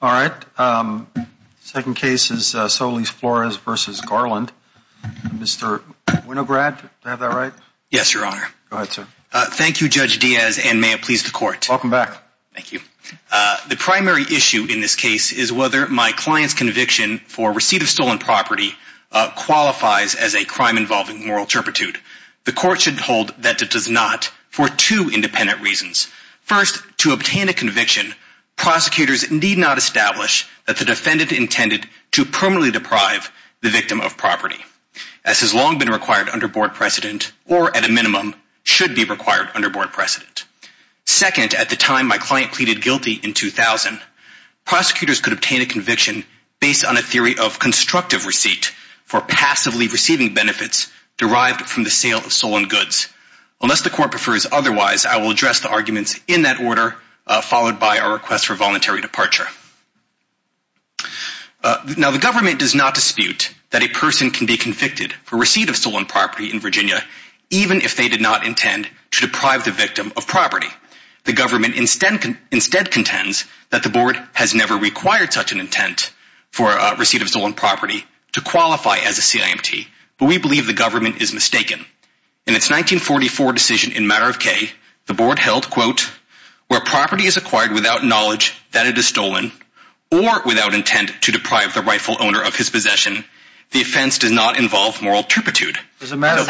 All right. Second case is Solis-Flores v. Garland. Mr. Winograd, do I have that right? Yes, Your Honor. Go ahead, sir. Thank you, Judge Diaz, and may it please the Court. Welcome back. Thank you. The primary issue in this case is whether my client's conviction for receipt of stolen property qualifies as a crime involving moral turpitude. The Court should hold that it does not for two independent reasons. First, to obtain a conviction, prosecutors need not establish that the defendant intended to permanently deprive the victim of property, as has long been required under board precedent or, at a minimum, should be required under board precedent. Second, at the time my client pleaded guilty in 2000, prosecutors could obtain a conviction based on a theory of constructive receipt for passively receiving benefits derived from the sale of stolen goods. Unless the Court prefers otherwise, I will address the arguments in that order, followed by a request for voluntary departure. Now, the government does not dispute that a person can be convicted for receipt of stolen property in Virginia, even if they did not intend to deprive the victim of property. The government instead contends that the board has never required such an intent for receipt of stolen property to qualify as a CIMT, but we believe the government is mistaken. In its 1944 decision in Matter of K, the board held, quote, where property is acquired without knowledge that it is stolen or without intent to deprive the rightful owner of his possession, the offense does not involve moral turpitude. Where does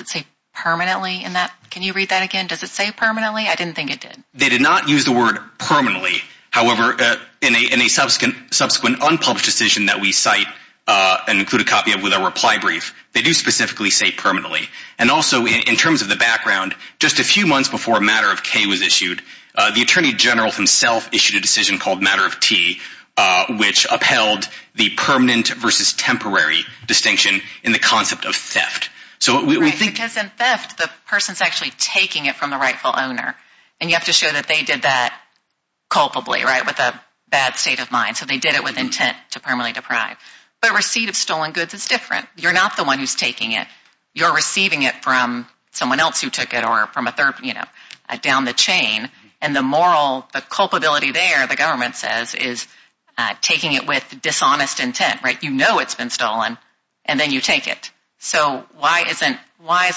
it say permanently? Can you read that again? Does it say permanently? I didn't think it did. They did not use the word permanently. However, in a subsequent unpublished decision that we cite and include a copy of with a reply brief, they do specifically say permanently. And also, in terms of the background, just a few months before Matter of K was issued, the Attorney General himself issued a decision called Matter of T, which upheld the permanent versus temporary distinction in the concept of theft. Because in theft, the person is actually taking it from the rightful owner. And you have to show that they did that culpably, with a bad state of mind. So they did it with intent to permanently deprive. But receipt of stolen goods is different. You're not the one who's taking it. You're receiving it from someone else who took it or from a third party, down the chain. And the moral, the culpability there, the government says, is taking it with dishonest intent. You know it's been stolen, and then you take it. So why isn't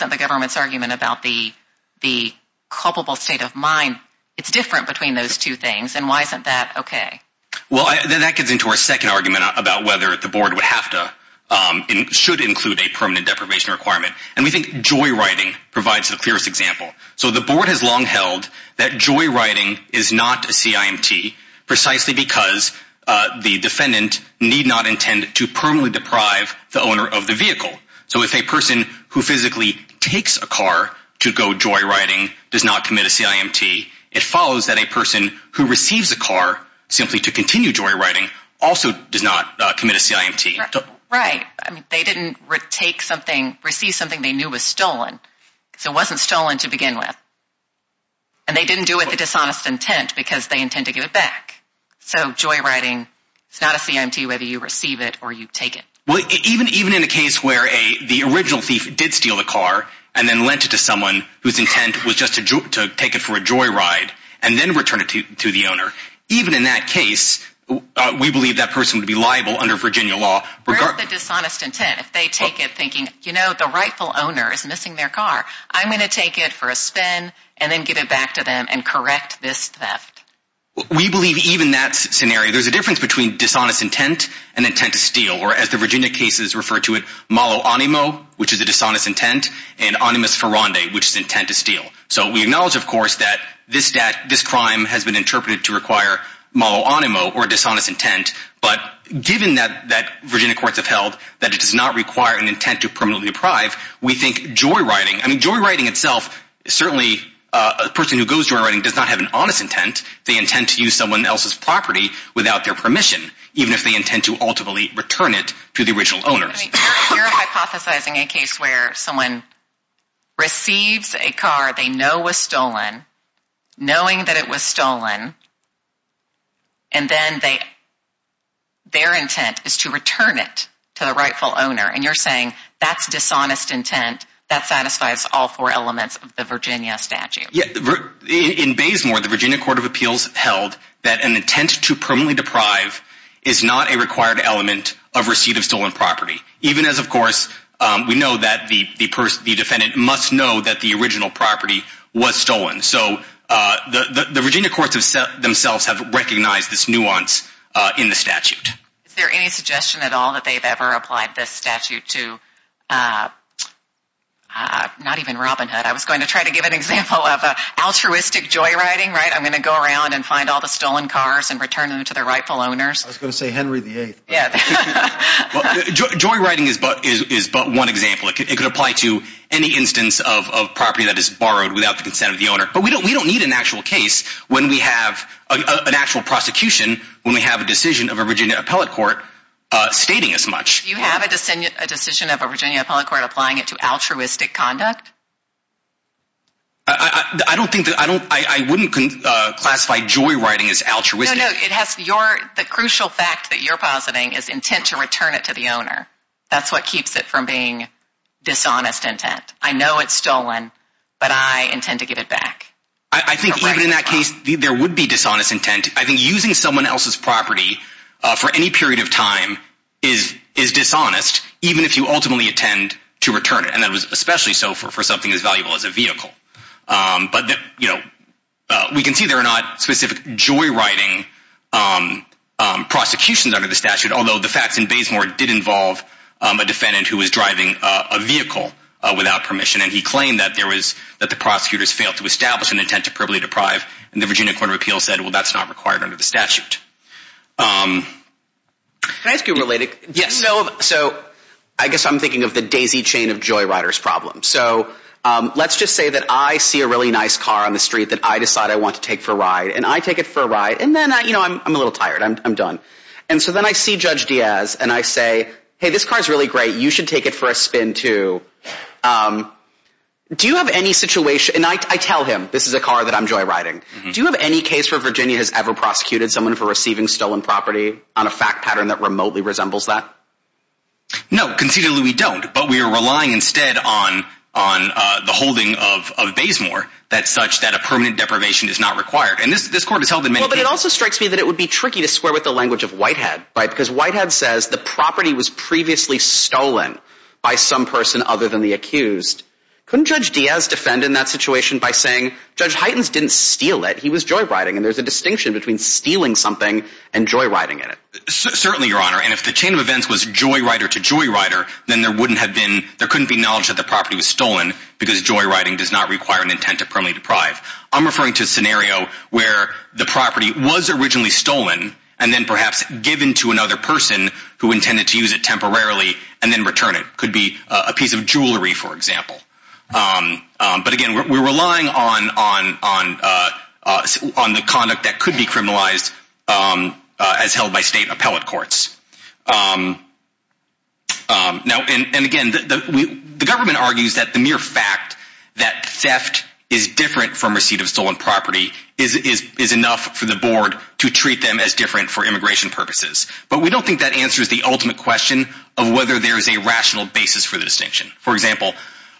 the government's argument about the culpable state of mind, it's different between those two things, and why isn't that okay? Well, that gets into our second argument about whether the board would have to, should include a permanent deprivation requirement. And we think joyriding provides the clearest example. So the board has long held that joyriding is not a CIMT, precisely because the defendant need not intend to permanently deprive the owner of the vehicle. So if a person who physically takes a car to go joyriding does not commit a CIMT, it follows that a person who receives a car simply to continue joyriding also does not commit a CIMT. Right. They didn't receive something they knew was stolen, because it wasn't stolen to begin with. And they didn't do it with a dishonest intent, because they intend to give it back. So joyriding is not a CIMT whether you receive it or you take it. Well, even in a case where the original thief did steal the car, and then lent it to someone whose intent was just to take it for a joyride, and then return it to the owner. Even in that case, we believe that person would be liable under Virginia law. Where is the dishonest intent if they take it thinking, you know, the rightful owner is missing their car. I'm going to take it for a spin and then give it back to them and correct this theft. We believe even that scenario, there's a difference between dishonest intent and intent to steal. Or as the Virginia cases refer to it, malo animo, which is a dishonest intent, and animus virandi, which is intent to steal. So we acknowledge, of course, that this crime has been interpreted to require malo animo or dishonest intent. But given that Virginia courts have held that it does not require an intent to permanently deprive, we think joyriding. I mean, joyriding itself, certainly a person who goes joyriding does not have an honest intent. They intend to use someone else's property without their permission, even if they intend to ultimately return it to the original owner. You're hypothesizing a case where someone receives a car they know was stolen, knowing that it was stolen, and then their intent is to return it to the rightful owner. And you're saying that's dishonest intent, that satisfies all four elements of the Virginia statute. In Baysmore, the Virginia Court of Appeals held that an intent to permanently deprive is not a required element of receipt of stolen property. Even as, of course, we know that the defendant must know that the original property was stolen. So the Virginia courts themselves have recognized this nuance in the statute. Is there any suggestion at all that they've ever applied this statute to not even Robin Hood? I was going to try to give an example of altruistic joyriding, right? I'm going to go around and find all the stolen cars and return them to their rightful owners. I was going to say Henry VIII. Joyriding is but one example. It could apply to any instance of property that is borrowed without the consent of the owner. But we don't need an actual case when we have an actual prosecution, when we have a decision of a Virginia appellate court stating as much. Do you have a decision of a Virginia appellate court applying it to altruistic conduct? I wouldn't classify joyriding as altruistic. No, no. The crucial fact that you're positing is intent to return it to the owner. That's what keeps it from being dishonest intent. I know it's stolen, but I intend to give it back. I think even in that case, there would be dishonest intent. I think using someone else's property for any period of time is dishonest, even if you ultimately intend to return it. That was especially so for something as valuable as a vehicle. We can see there are not specific joyriding prosecutions under the statute, although the facts in Bazemore did involve a defendant who was driving a vehicle without permission. And he claimed that the prosecutors failed to establish an intent to publicly deprive. And the Virginia Court of Appeals said, well, that's not required under the statute. Can I ask you a related question? Yes. So I guess I'm thinking of the daisy chain of joyriders problem. So let's just say that I see a really nice car on the street that I decide I want to take for a ride. And I take it for a ride. And then I'm a little tired. I'm done. And so then I see Judge Diaz. And I say, hey, this car is really great. You should take it for a spin, too. Do you have any situation? And I tell him, this is a car that I'm joyriding. Do you have any case where Virginia has ever prosecuted someone for receiving stolen property on a fact pattern that remotely resembles that? No. Considerably, we don't. But we are relying instead on the holding of Bazemore that's such that a permanent deprivation is not required. And this court has held in many cases. Because Whitehead says the property was previously stolen by some person other than the accused. Couldn't Judge Diaz defend in that situation by saying Judge Heitens didn't steal it. He was joyriding. And there's a distinction between stealing something and joyriding in it. Certainly, Your Honor. And if the chain of events was joyrider to joyrider, then there wouldn't have been – there couldn't be knowledge that the property was stolen because joyriding does not require an intent to permanently deprive. I'm referring to a scenario where the property was originally stolen and then perhaps given to another person who intended to use it temporarily and then return it. It could be a piece of jewelry, for example. But again, we're relying on the conduct that could be criminalized as held by state appellate courts. And again, the government argues that the mere fact that theft is different from receipt of stolen property is enough for the board to treat them as different for immigration purposes. But we don't think that answers the ultimate question of whether there's a rational basis for the distinction. For example,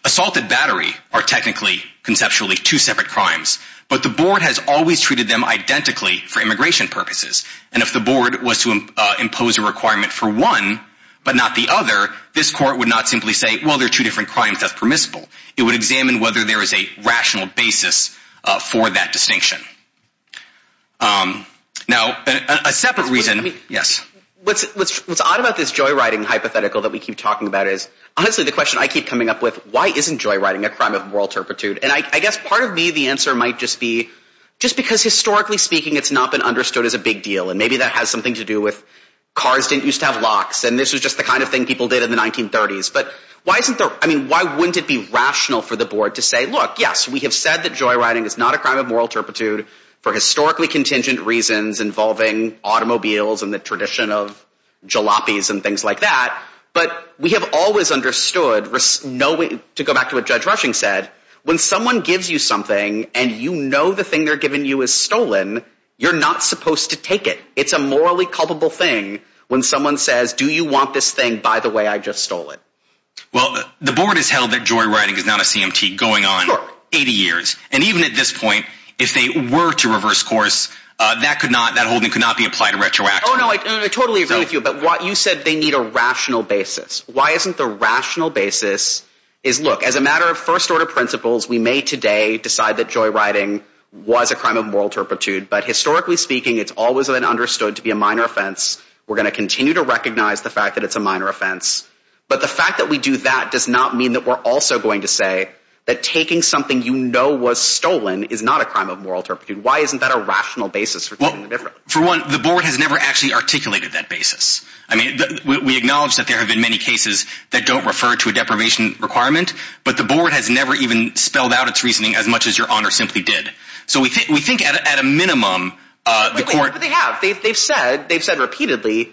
assault and battery are technically, conceptually two separate crimes. But the board has always treated them identically for immigration purposes. And if the board was to impose a requirement for one but not the other, this court would not simply say, well, they're two different crimes. That's permissible. It would examine whether there is a rational basis for that distinction. Now, a separate reason – yes. What's odd about this joyriding hypothetical that we keep talking about is honestly the question I keep coming up with, why isn't joyriding a crime of moral turpitude? And I guess part of me, the answer might just be just because historically speaking, it's not been understood as a big deal. And maybe that has something to do with cars didn't used to have locks. And this was just the kind of thing people did in the 1930s. But why isn't there – I mean, why wouldn't it be rational for the board to say, look, yes, we have said that joyriding is not a crime of moral turpitude for historically contingent reasons involving automobiles and the tradition of jalopies and things like that. But we have always understood – to go back to what Judge Rushing said, when someone gives you something and you know the thing they're giving you is stolen, you're not supposed to take it. It's a morally culpable thing when someone says, do you want this thing? By the way, I just stole it. Well, the board has held that joyriding is not a CMT going on 80 years. And even at this point, if they were to reverse course, that could not – that holding could not be applied to retroactively. Oh, no, I totally agree with you. But you said they need a rational basis. Why isn't the rational basis is, look, as a matter of first-order principles, we may today decide that joyriding was a crime of moral turpitude. But historically speaking, it's always been understood to be a minor offense. We're going to continue to recognize the fact that it's a minor offense. But the fact that we do that does not mean that we're also going to say that taking something you know was stolen is not a crime of moral turpitude. Why isn't that a rational basis for taking it differently? For one, the board has never actually articulated that basis. I mean, we acknowledge that there have been many cases that don't refer to a deprivation requirement. But the board has never even spelled out its reasoning as much as Your Honor simply did. So we think at a minimum, the court – But they have. They've said repeatedly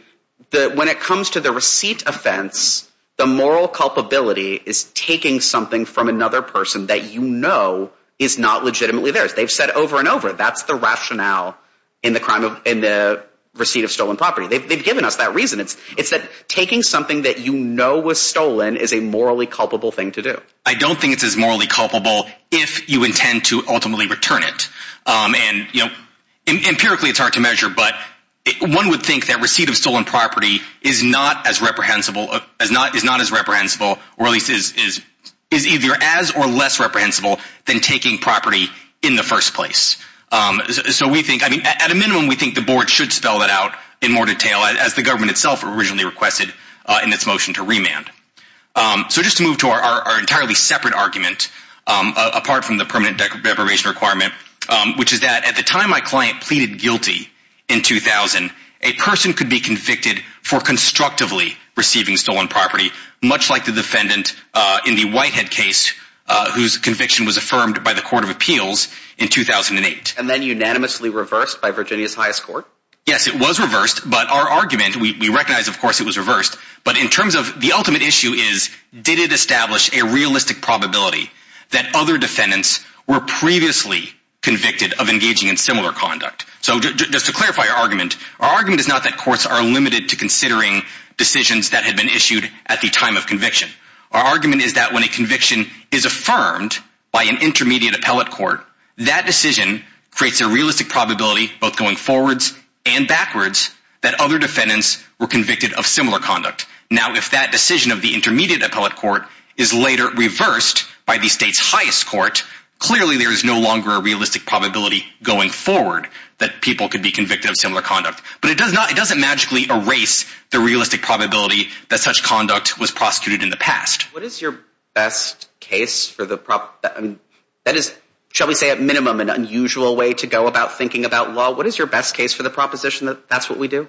that when it comes to the receipt offense, the moral culpability is taking something from another person that you know is not legitimately theirs. They've said over and over that's the rationale in the crime of – in the receipt of stolen property. They've given us that reason. It's that taking something that you know was stolen is a morally culpable thing to do. I don't think it's as morally culpable if you intend to ultimately return it. And empirically, it's hard to measure, but one would think that receipt of stolen property is not as reprehensible or at least is either as or less reprehensible than taking property in the first place. So we think – I mean, at a minimum, we think the board should spell that out in more detail as the government itself originally requested in its motion to remand. So just to move to our entirely separate argument apart from the permanent deprivation requirement, which is that at the time my client pleaded guilty in 2000, a person could be convicted for constructively receiving stolen property, much like the defendant in the Whitehead case whose conviction was affirmed by the court of appeals in 2008. And then unanimously reversed by Virginia's highest court? Yes, it was reversed, but our argument – we recognize, of course, it was reversed. But in terms of the ultimate issue is did it establish a realistic probability that other defendants were previously convicted of engaging in similar conduct? So just to clarify our argument, our argument is not that courts are limited to considering decisions that had been issued at the time of conviction. Our argument is that when a conviction is affirmed by an intermediate appellate court, that decision creates a realistic probability both going forwards and backwards that other defendants were convicted of similar conduct. Now, if that decision of the intermediate appellate court is later reversed by the state's highest court, clearly there is no longer a realistic probability going forward that people could be convicted of similar conduct. But it does not – it doesn't magically erase the realistic probability that such conduct was prosecuted in the past. What is your best case for the – that is, shall we say, at minimum an unusual way to go about thinking about law. What is your best case for the proposition that that's what we do?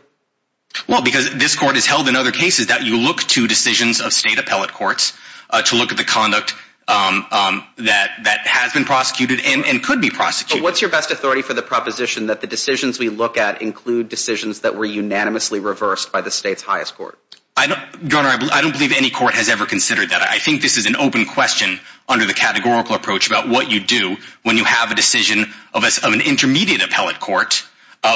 Well, because this court has held in other cases that you look to decisions of state appellate courts to look at the conduct that has been prosecuted and could be prosecuted. Well, what's your best authority for the proposition that the decisions we look at include decisions that were unanimously reversed by the state's highest court? Your Honor, I don't believe any court has ever considered that. I think this is an open question under the categorical approach about what you do when you have a decision of an intermediate appellate court,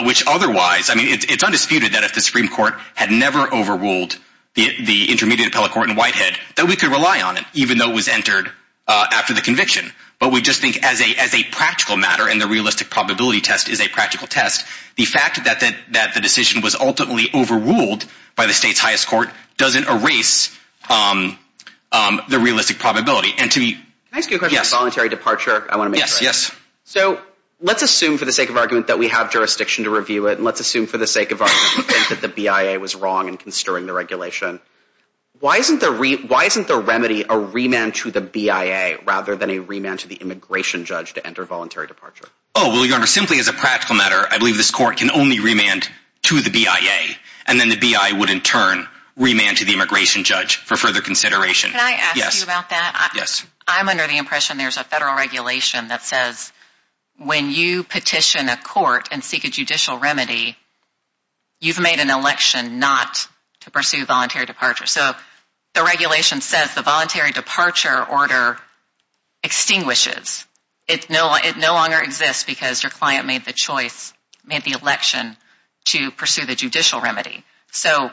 which otherwise – I mean, it's undisputed that if the Supreme Court had never overruled the intermediate appellate court in Whitehead, that we could rely on it, even though it was entered after the conviction. But we just think as a practical matter, and the realistic probability test is a practical test, the fact that the decision was ultimately overruled by the state's highest court doesn't erase the realistic probability. And to be – Can I ask you a question? Yes. Voluntary departure, I want to make sure. Yes, yes. So let's assume for the sake of argument that we have jurisdiction to review it, and let's assume for the sake of argument that the BIA was wrong in consterting the regulation. Why isn't the remedy a remand to the BIA rather than a remand to the immigration judge to enter voluntary departure? Oh, well, Your Honor, simply as a practical matter, I believe this court can only remand to the BIA, and then the BIA would in turn remand to the immigration judge for further consideration. Can I ask you about that? Yes. I'm under the impression there's a federal regulation that says when you petition a court and seek a judicial remedy, you've made an election not to pursue voluntary departure. So the regulation says the voluntary departure order extinguishes. It no longer exists because your client made the choice, made the election to pursue the judicial remedy. So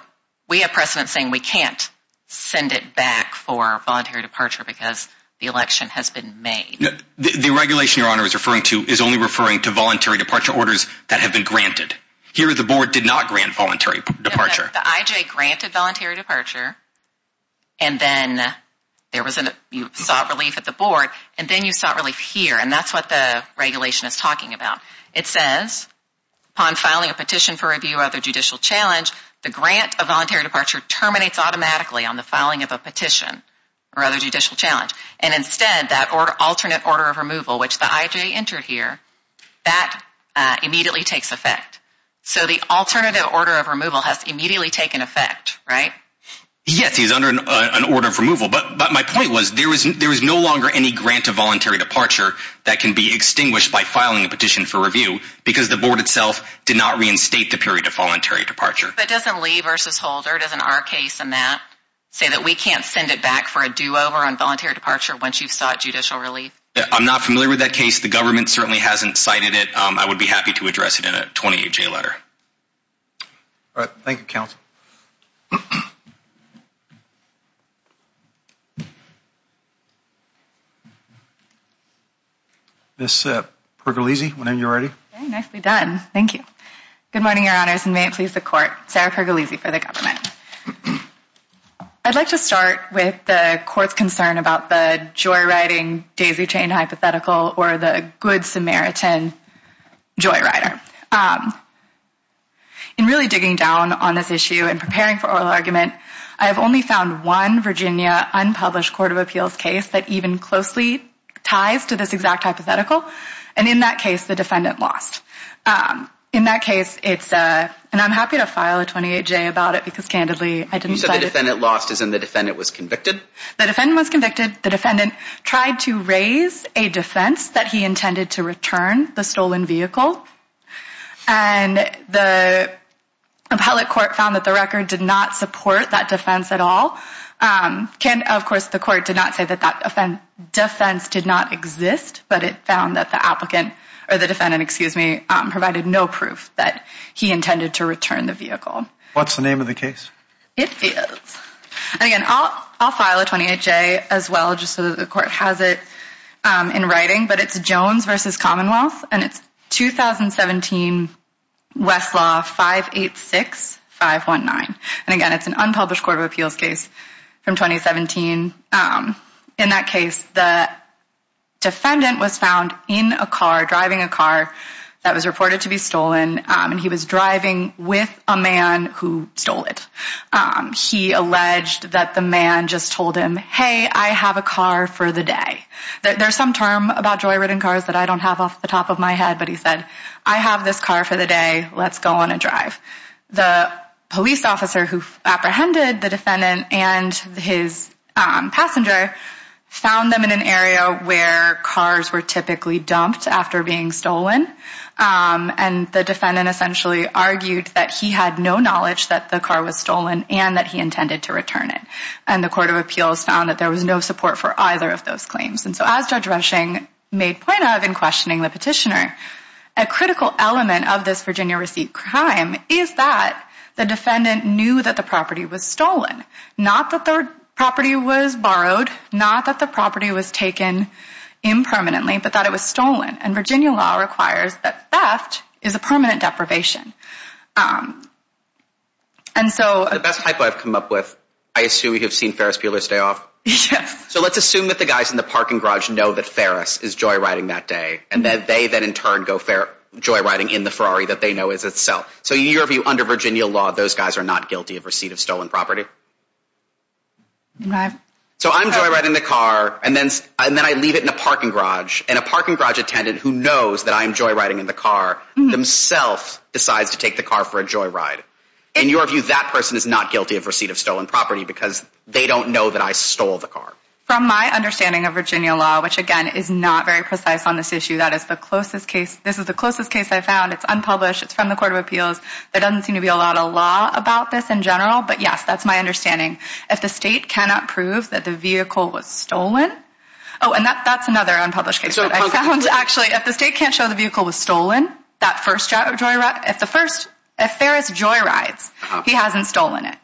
we have precedent saying we can't send it back for voluntary departure because the election has been made. The regulation Your Honor is referring to is only referring to voluntary departure orders that have been granted. Here the board did not grant voluntary departure. The IJ granted voluntary departure, and then you sought relief at the board, and then you sought relief here, and that's what the regulation is talking about. It says upon filing a petition for review or other judicial challenge, the grant of voluntary departure terminates automatically on the filing of a petition or other judicial challenge. And instead, that alternate order of removal, which the IJ entered here, that immediately takes effect. So the alternative order of removal has immediately taken effect, right? Yes, he's under an order of removal. But my point was there is no longer any grant of voluntary departure that can be extinguished by filing a petition for review because the board itself did not reinstate the period of voluntary departure. But doesn't Lee v. Holder, doesn't our case in that say that we can't send it back for a do-over on voluntary departure once you've sought judicial relief? I'm not familiar with that case. The government certainly hasn't cited it. I would be happy to address it in a 28-J letter. All right. Thank you, counsel. Ms. Pergolese, when you're ready. Nicely done. Thank you. Good morning, Your Honors, and may it please the court. Sarah Pergolese for the government. I'd like to start with the court's concern about the joyriding daisy-chained hypothetical or the good Samaritan joyrider. In really digging down on this issue and preparing for oral argument, I have only found one Virginia unpublished court of appeals case that even closely ties to this exact hypothetical. And in that case, the defendant lost. In that case, it's a – and I'm happy to file a 28-J about it because, candidly, I didn't cite it. So the defendant lost as in the defendant was convicted? The defendant was convicted. The defendant tried to raise a defense that he intended to return the stolen vehicle. And the appellate court found that the record did not support that defense at all. Of course, the court did not say that that defense did not exist, but it found that the applicant – or the defendant, excuse me, provided no proof that he intended to return the vehicle. What's the name of the case? It is – and again, I'll file a 28-J as well just so that the court has it in writing. But it's Jones v. Commonwealth, and it's 2017 Westlaw 586519. And again, it's an unpublished court of appeals case from 2017. In that case, the defendant was found in a car, driving a car that was reported to be stolen, and he was driving with a man who stole it. He alleged that the man just told him, hey, I have a car for the day. There's some term about joy-ridden cars that I don't have off the top of my head, but he said, I have this car for the day. Let's go on a drive. The police officer who apprehended the defendant and his passenger found them in an area where cars were typically dumped after being stolen. And the defendant essentially argued that he had no knowledge that the car was stolen and that he intended to return it. And the court of appeals found that there was no support for either of those claims. And so as Judge Rushing made point of in questioning the petitioner, a critical element of this Virginia receipt crime is that the defendant knew that the property was stolen. Not that the property was borrowed. Not that the property was taken impermanently, but that it was stolen. And Virginia law requires that theft is a permanent deprivation. And so... The best typo I've come up with, I assume you have seen Ferris Bueller's day off? Yes. So let's assume that the guys in the parking garage know that Ferris is joy-riding that day. And that they then in turn go joy-riding in the Ferrari that they know is a sell. So in your view, under Virginia law, those guys are not guilty of receipt of stolen property? Right. So I'm joy-riding the car and then I leave it in a parking garage. And a parking garage attendant who knows that I'm joy-riding in the car themselves decides to take the car for a joy-ride. In your view, that person is not guilty of receipt of stolen property because they don't know that I stole the car. From my understanding of Virginia law, which again is not very precise on this issue, that is the closest case... This is the closest case I've found. It's unpublished. It's from the court of appeals. There doesn't seem to be a lot of law about this in general. But yes, that's my understanding. If the state cannot prove that the vehicle was stolen... Oh, and that's another unpublished case. I found actually, if the state can't show the vehicle was stolen, that first joy-ride... If the first... If Ferris joy-rides, he hasn't stolen it.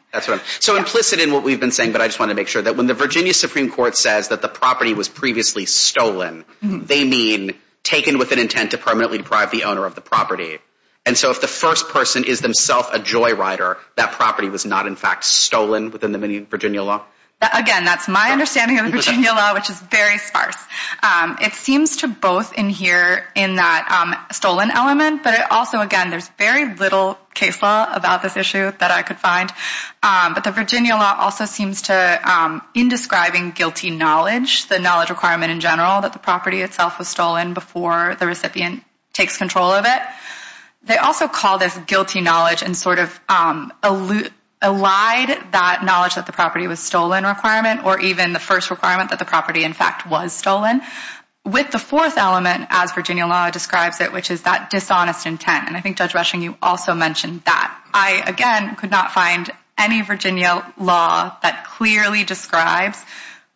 So implicit in what we've been saying, but I just want to make sure that when the Virginia Supreme Court says that the property was previously stolen, they mean taken with an intent to permanently deprive the owner of the property. And so if the first person is themself a joy-rider, that property was not in fact stolen within the Virginia law? Again, that's my understanding of the Virginia law, which is very sparse. It seems to both adhere in that stolen element, but also again, there's very little case law about this issue that I could find. But the Virginia law also seems to, in describing guilty knowledge, the knowledge requirement in general, that the property itself was stolen before the recipient takes control of it, they also call this guilty knowledge and sort of allied that knowledge that the property was stolen requirement, or even the first requirement that the property in fact was stolen, with the fourth element as Virginia law describes it, which is that dishonest intent. And I think Judge Rushing, you also mentioned that. I, again, could not find any Virginia law that clearly describes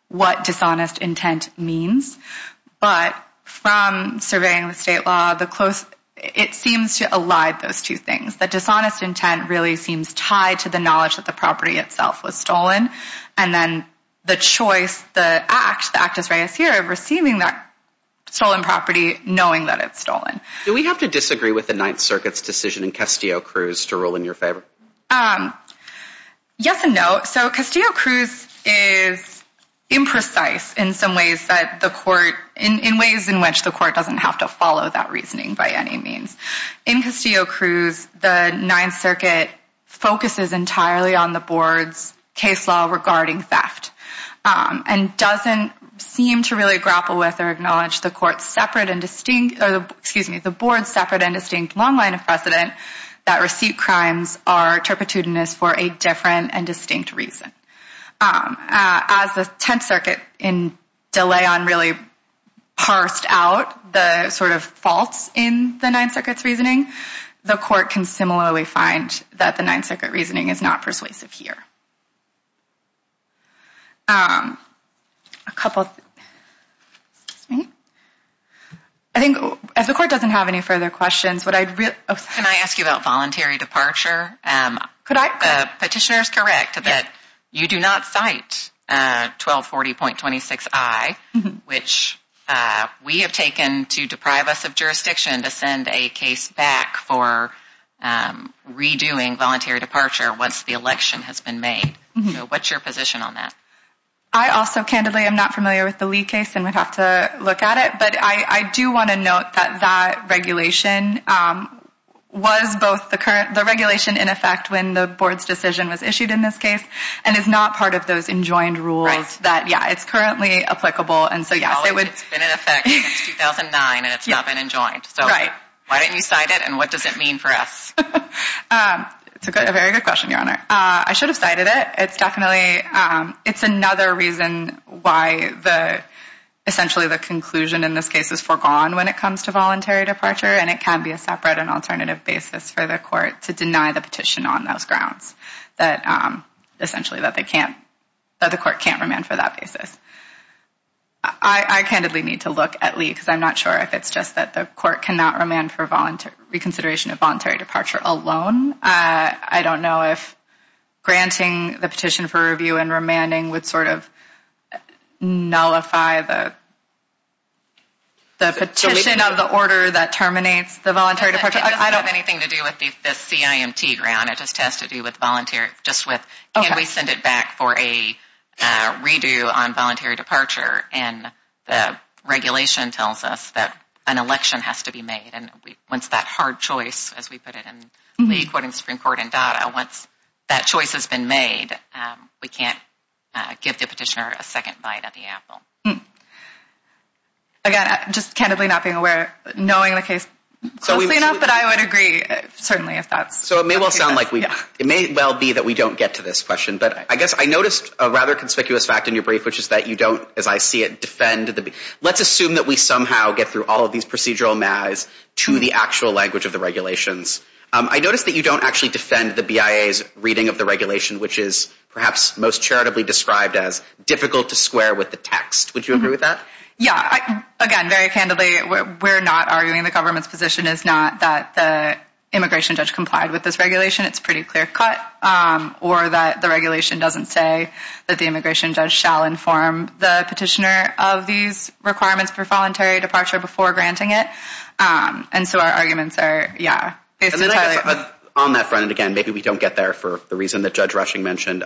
what dishonest intent means. But from surveying the state law, it seems to allie those two things. That dishonest intent really seems tied to the knowledge that the property itself was stolen. And then the choice, the act, the act as right as here of receiving that stolen property, knowing that it's stolen. Do we have to disagree with the Ninth Circuit's decision in Castillo-Cruz to rule in your favor? Yes and no. So Castillo-Cruz is imprecise in some ways that the court, in ways in which the court doesn't have to follow that reasoning by any means. In Castillo-Cruz, the Ninth Circuit focuses entirely on the board's case law regarding theft and doesn't seem to really grapple with or acknowledge the court's separate and distinct, excuse me, the board's separate and distinct long line of precedent that receipt crimes are turpitudinous for a different and distinct reason. As the Tenth Circuit in De Leon really parsed out the sort of faults in the Ninth Circuit's reasoning, the court can similarly find that the Ninth Circuit reasoning is not persuasive here. A couple, excuse me. I think as the court doesn't have any further questions, would I, Can I ask you about voluntary departure? Could I? The petitioner is correct that you do not cite 1240.26i, which we have taken to deprive us of jurisdiction to send a case back for redoing voluntary departure once the election has been made. What's your position on that? I also, candidly, am not familiar with the Lee case and would have to look at it, but I do want to note that that regulation was both the current, the regulation in effect when the board's decision was issued in this case and is not part of those enjoined rules. Right. Yeah, it's currently applicable and so yes, it would. It's been in effect since 2009 and it's not been enjoined. Right. So why didn't you cite it and what does it mean for us? It's a very good question, Your Honor. I should have cited it. It's definitely, it's another reason why the, essentially the conclusion in this case is foregone when it comes to voluntary departure and it can be a separate and alternative basis for the court to deny the petition on those grounds, that essentially that they can't, that the court can't remand for that basis. I candidly need to look at Lee because I'm not sure if it's just that the court cannot remand for reconsideration of voluntary departure alone. I don't know if granting the petition for review and remanding would sort of nullify the petition of the order that terminates the voluntary departure. It doesn't have anything to do with the CIMT ground. It just has to do with voluntary, just with can we send it back for a redo on voluntary departure and the regulation tells us that an election has to be made and once that hard choice, as we put it in Lee quoting Supreme Court and DADA, once that choice has been made, we can't give the petitioner a second bite of the apple. Again, just candidly not being aware, knowing the case closely enough, but I would agree certainly if that's. So it may well sound like we, it may well be that we don't get to this question, but I guess I noticed a rather conspicuous fact in your brief, which is that you don't, as I see it, defend the, let's assume that we somehow get through all of these procedural measures to the actual language of the regulations. I noticed that you don't actually defend the BIA's reading of the regulation, which is perhaps most charitably described as difficult to square with the text. Would you agree with that? Yeah, again, very candidly, we're not arguing the government's position is not that the immigration judge complied with this regulation. It's pretty clear cut or that the regulation doesn't say that the immigration judge shall inform the petitioner of these requirements for voluntary departure before granting it. And so our arguments are, yeah. On that front, and again, maybe we don't get there for the reason that Judge Rushing mentioned,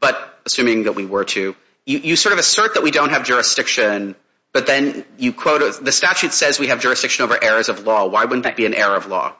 but assuming that we were to, you sort of assert that we don't have jurisdiction, but then you quote, the statute says we have jurisdiction over errors of law. Why wouldn't that be an error of law?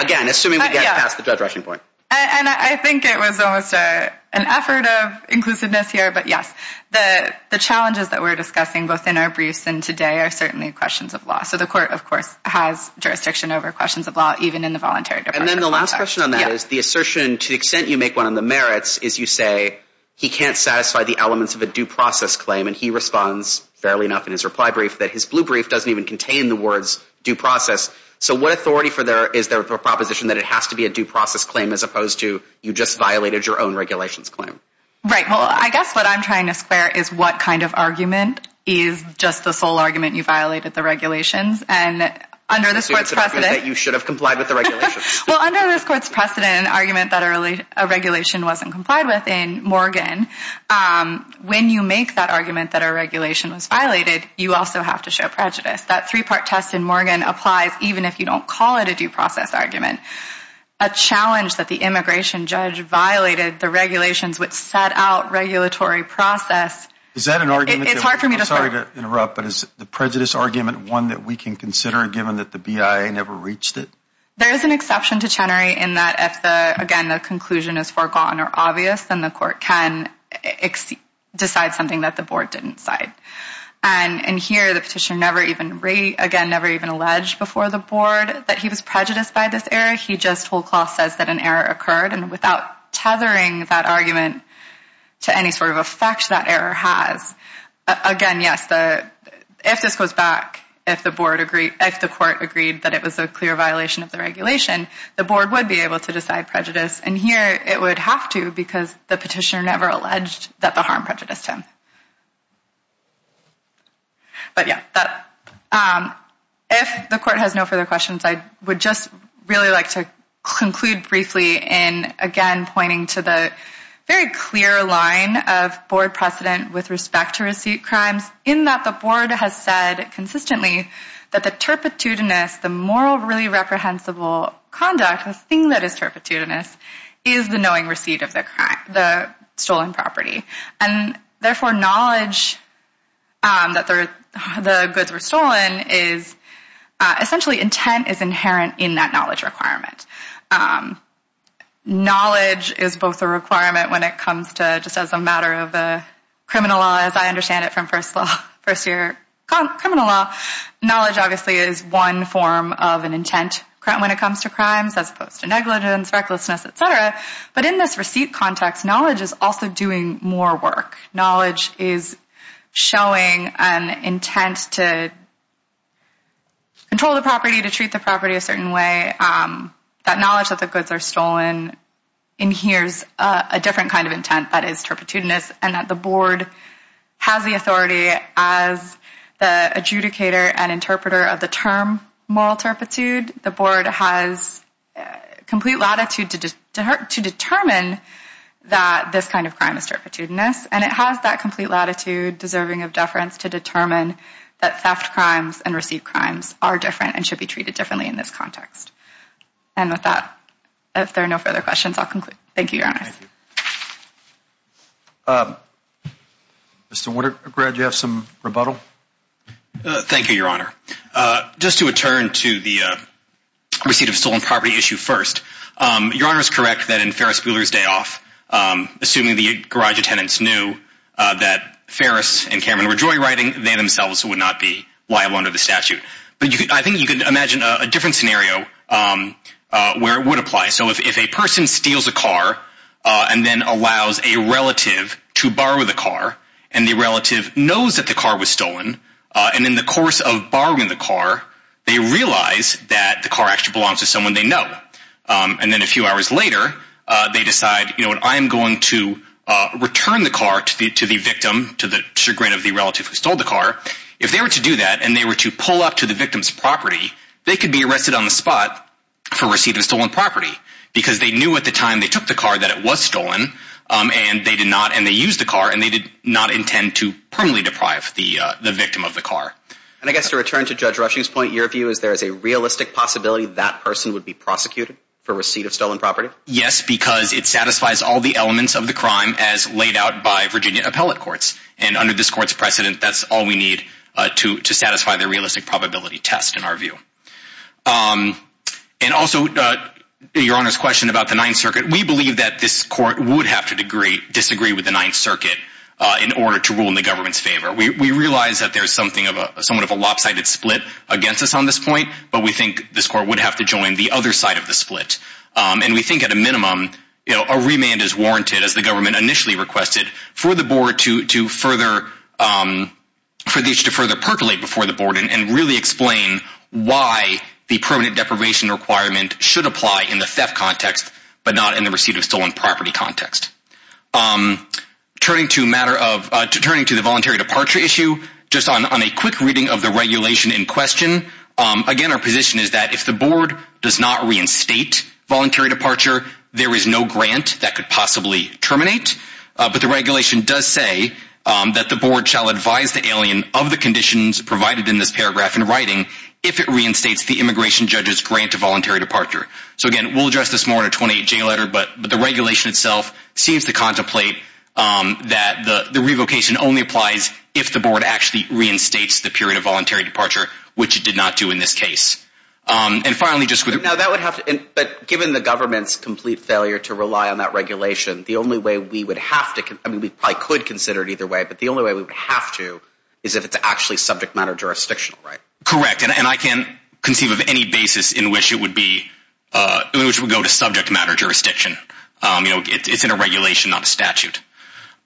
Again, assuming we get past the Judge Rushing point. And I think it was almost an effort of inclusiveness here, but yes. The challenges that we're discussing both in our briefs and today are certainly questions of law. So the court, of course, has jurisdiction over questions of law even in the voluntary departure process. And then the last question on that is the assertion to the extent you make one on the merits is you say he can't satisfy the elements of a due process claim, and he responds fairly enough in his reply brief that his blue brief doesn't even contain the words due process. So what authority is there for a proposition that it has to be a due process claim as opposed to you just violated your own regulations claim? Right. Well, I guess what I'm trying to square is what kind of argument is just the sole argument you violated the regulations. And under this court's precedent. You should have complied with the regulations. Well, under this court's precedent, an argument that a regulation wasn't complied with in Morgan, when you make that argument that a regulation was violated, you also have to show prejudice. That three-part test in Morgan applies even if you don't call it a due process argument. A challenge that the immigration judge violated the regulations which set out regulatory process. Is that an argument? It's hard for me to start. I'm sorry to interrupt. But is the prejudice argument one that we can consider given that the BIA never reached it? There is an exception to Chenery in that if, again, the conclusion is forgotten or obvious, then the court can decide something that the board didn't decide. And here the petitioner never even, again, never even alleged before the board that he was prejudiced by this error. He just whole-cloth says that an error occurred. And without tethering that argument to any sort of effect that error has, again, yes, if this goes back, if the court agreed that it was a clear violation of the regulation, the board would be able to decide prejudice. And here it would have to because the petitioner never alleged that the harm prejudiced him. But, yeah, if the court has no further questions, I would just really like to conclude briefly in, again, pointing to the very clear line of board precedent with respect to receipt crimes in that the board has said consistently that the turpitude-ness, the moral really reprehensible conduct, the thing that is turpitude-ness, is the knowing receipt of the stolen property. And, therefore, knowledge that the goods were stolen is essentially intent is inherent in that knowledge requirement. Knowledge is both a requirement when it comes to just as a matter of criminal law, as I understand it from first law, first year criminal law, knowledge obviously is one form of an intent when it comes to crimes But in this receipt context, knowledge is also doing more work. Knowledge is showing an intent to control the property, to treat the property a certain way. That knowledge that the goods are stolen inheres a different kind of intent that is turpitude-ness and that the board has the authority as the adjudicator and interpreter of the term moral turpitude. The board has complete latitude to determine that this kind of crime is turpitude-ness and it has that complete latitude deserving of deference to determine that theft crimes and receipt crimes are different and should be treated differently in this context. And with that, if there are no further questions, I'll conclude. Thank you, Your Honor. Mr. Woodard, I'm glad you have some rebuttal. Thank you, Your Honor. Just to return to the receipt of stolen property issue first, Your Honor is correct that in Ferris Bueller's day off, assuming the garage attendants knew that Ferris and Cameron were joyriding, they themselves would not be liable under the statute. But I think you could imagine a different scenario where it would apply. So if a person steals a car and then allows a relative to borrow the car and the relative knows that the car was stolen and in the course of borrowing the car, they realize that the car actually belongs to someone they know. And then a few hours later, they decide, you know, I am going to return the car to the victim to the chagrin of the relative who stole the car. If they were to do that and they were to pull up to the victim's property, they could be arrested on the spot for receipt of stolen property because they knew at the time they took the car that it was stolen and they used the car and they did not intend to permanently deprive the victim of the car. And I guess to return to Judge Rushing's point, your view is there is a realistic possibility that person would be prosecuted for receipt of stolen property? Yes, because it satisfies all the elements of the crime as laid out by Virginia appellate courts. And under this court's precedent, that's all we need to satisfy the realistic probability test in our view. And also, Your Honor's question about the Ninth Circuit, we believe that this court would have to disagree with the Ninth Circuit in order to rule in the government's favor. We realize that there is somewhat of a lopsided split against us on this point, but we think this court would have to join the other side of the split. And we think at a minimum, a remand is warranted, as the government initially requested, for the board to further percolate before the board and really explain why the permanent deprivation requirement should apply in the theft context but not in the receipt of stolen property context. Turning to the voluntary departure issue, just on a quick reading of the regulation in question, again, our position is that if the board does not reinstate voluntary departure, there is no grant that could possibly terminate. But the regulation does say that the board shall advise the alien of the conditions provided in this paragraph in writing if it reinstates the immigration judge's grant to voluntary departure. So again, we'll address this more in a 28-J letter, but the regulation itself seems to contemplate that the revocation only applies if the board actually reinstates the period of voluntary departure, which it did not do in this case. And finally, just with – Now, that would have to – but given the government's complete failure to rely on that regulation, the only way we would have to – I mean, we probably could consider it either way, but the only way we would have to is if it's actually subject matter jurisdictional, right? Correct, and I can't conceive of any basis in which it would be – in which it would go to subject matter jurisdiction. You know, it's in a regulation, not a statute.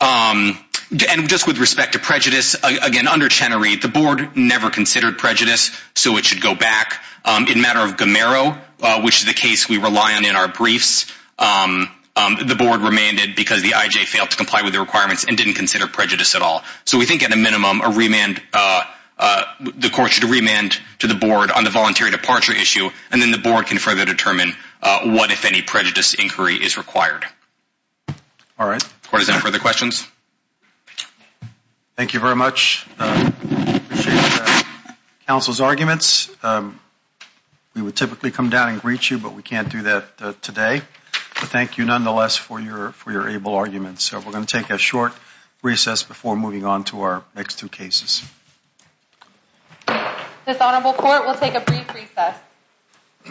And just with respect to prejudice, again, under Chenery, the board never considered prejudice, so it should go back. In matter of Gomero, which is the case we rely on in our briefs, the board remained it because the IJ failed to comply with the requirements and didn't consider prejudice at all. So we think, at a minimum, a remand – the court should remand to the board on the voluntary departure issue, and then the board can further determine what, if any, prejudice inquiry is required. All right. Court, is there any further questions? Thank you very much. Appreciate the counsel's arguments. We would typically come down and greet you, but we can't do that today. But thank you, nonetheless, for your able arguments. So we're going to take a short recess before moving on to our next two cases. This honorable court will take a brief recess.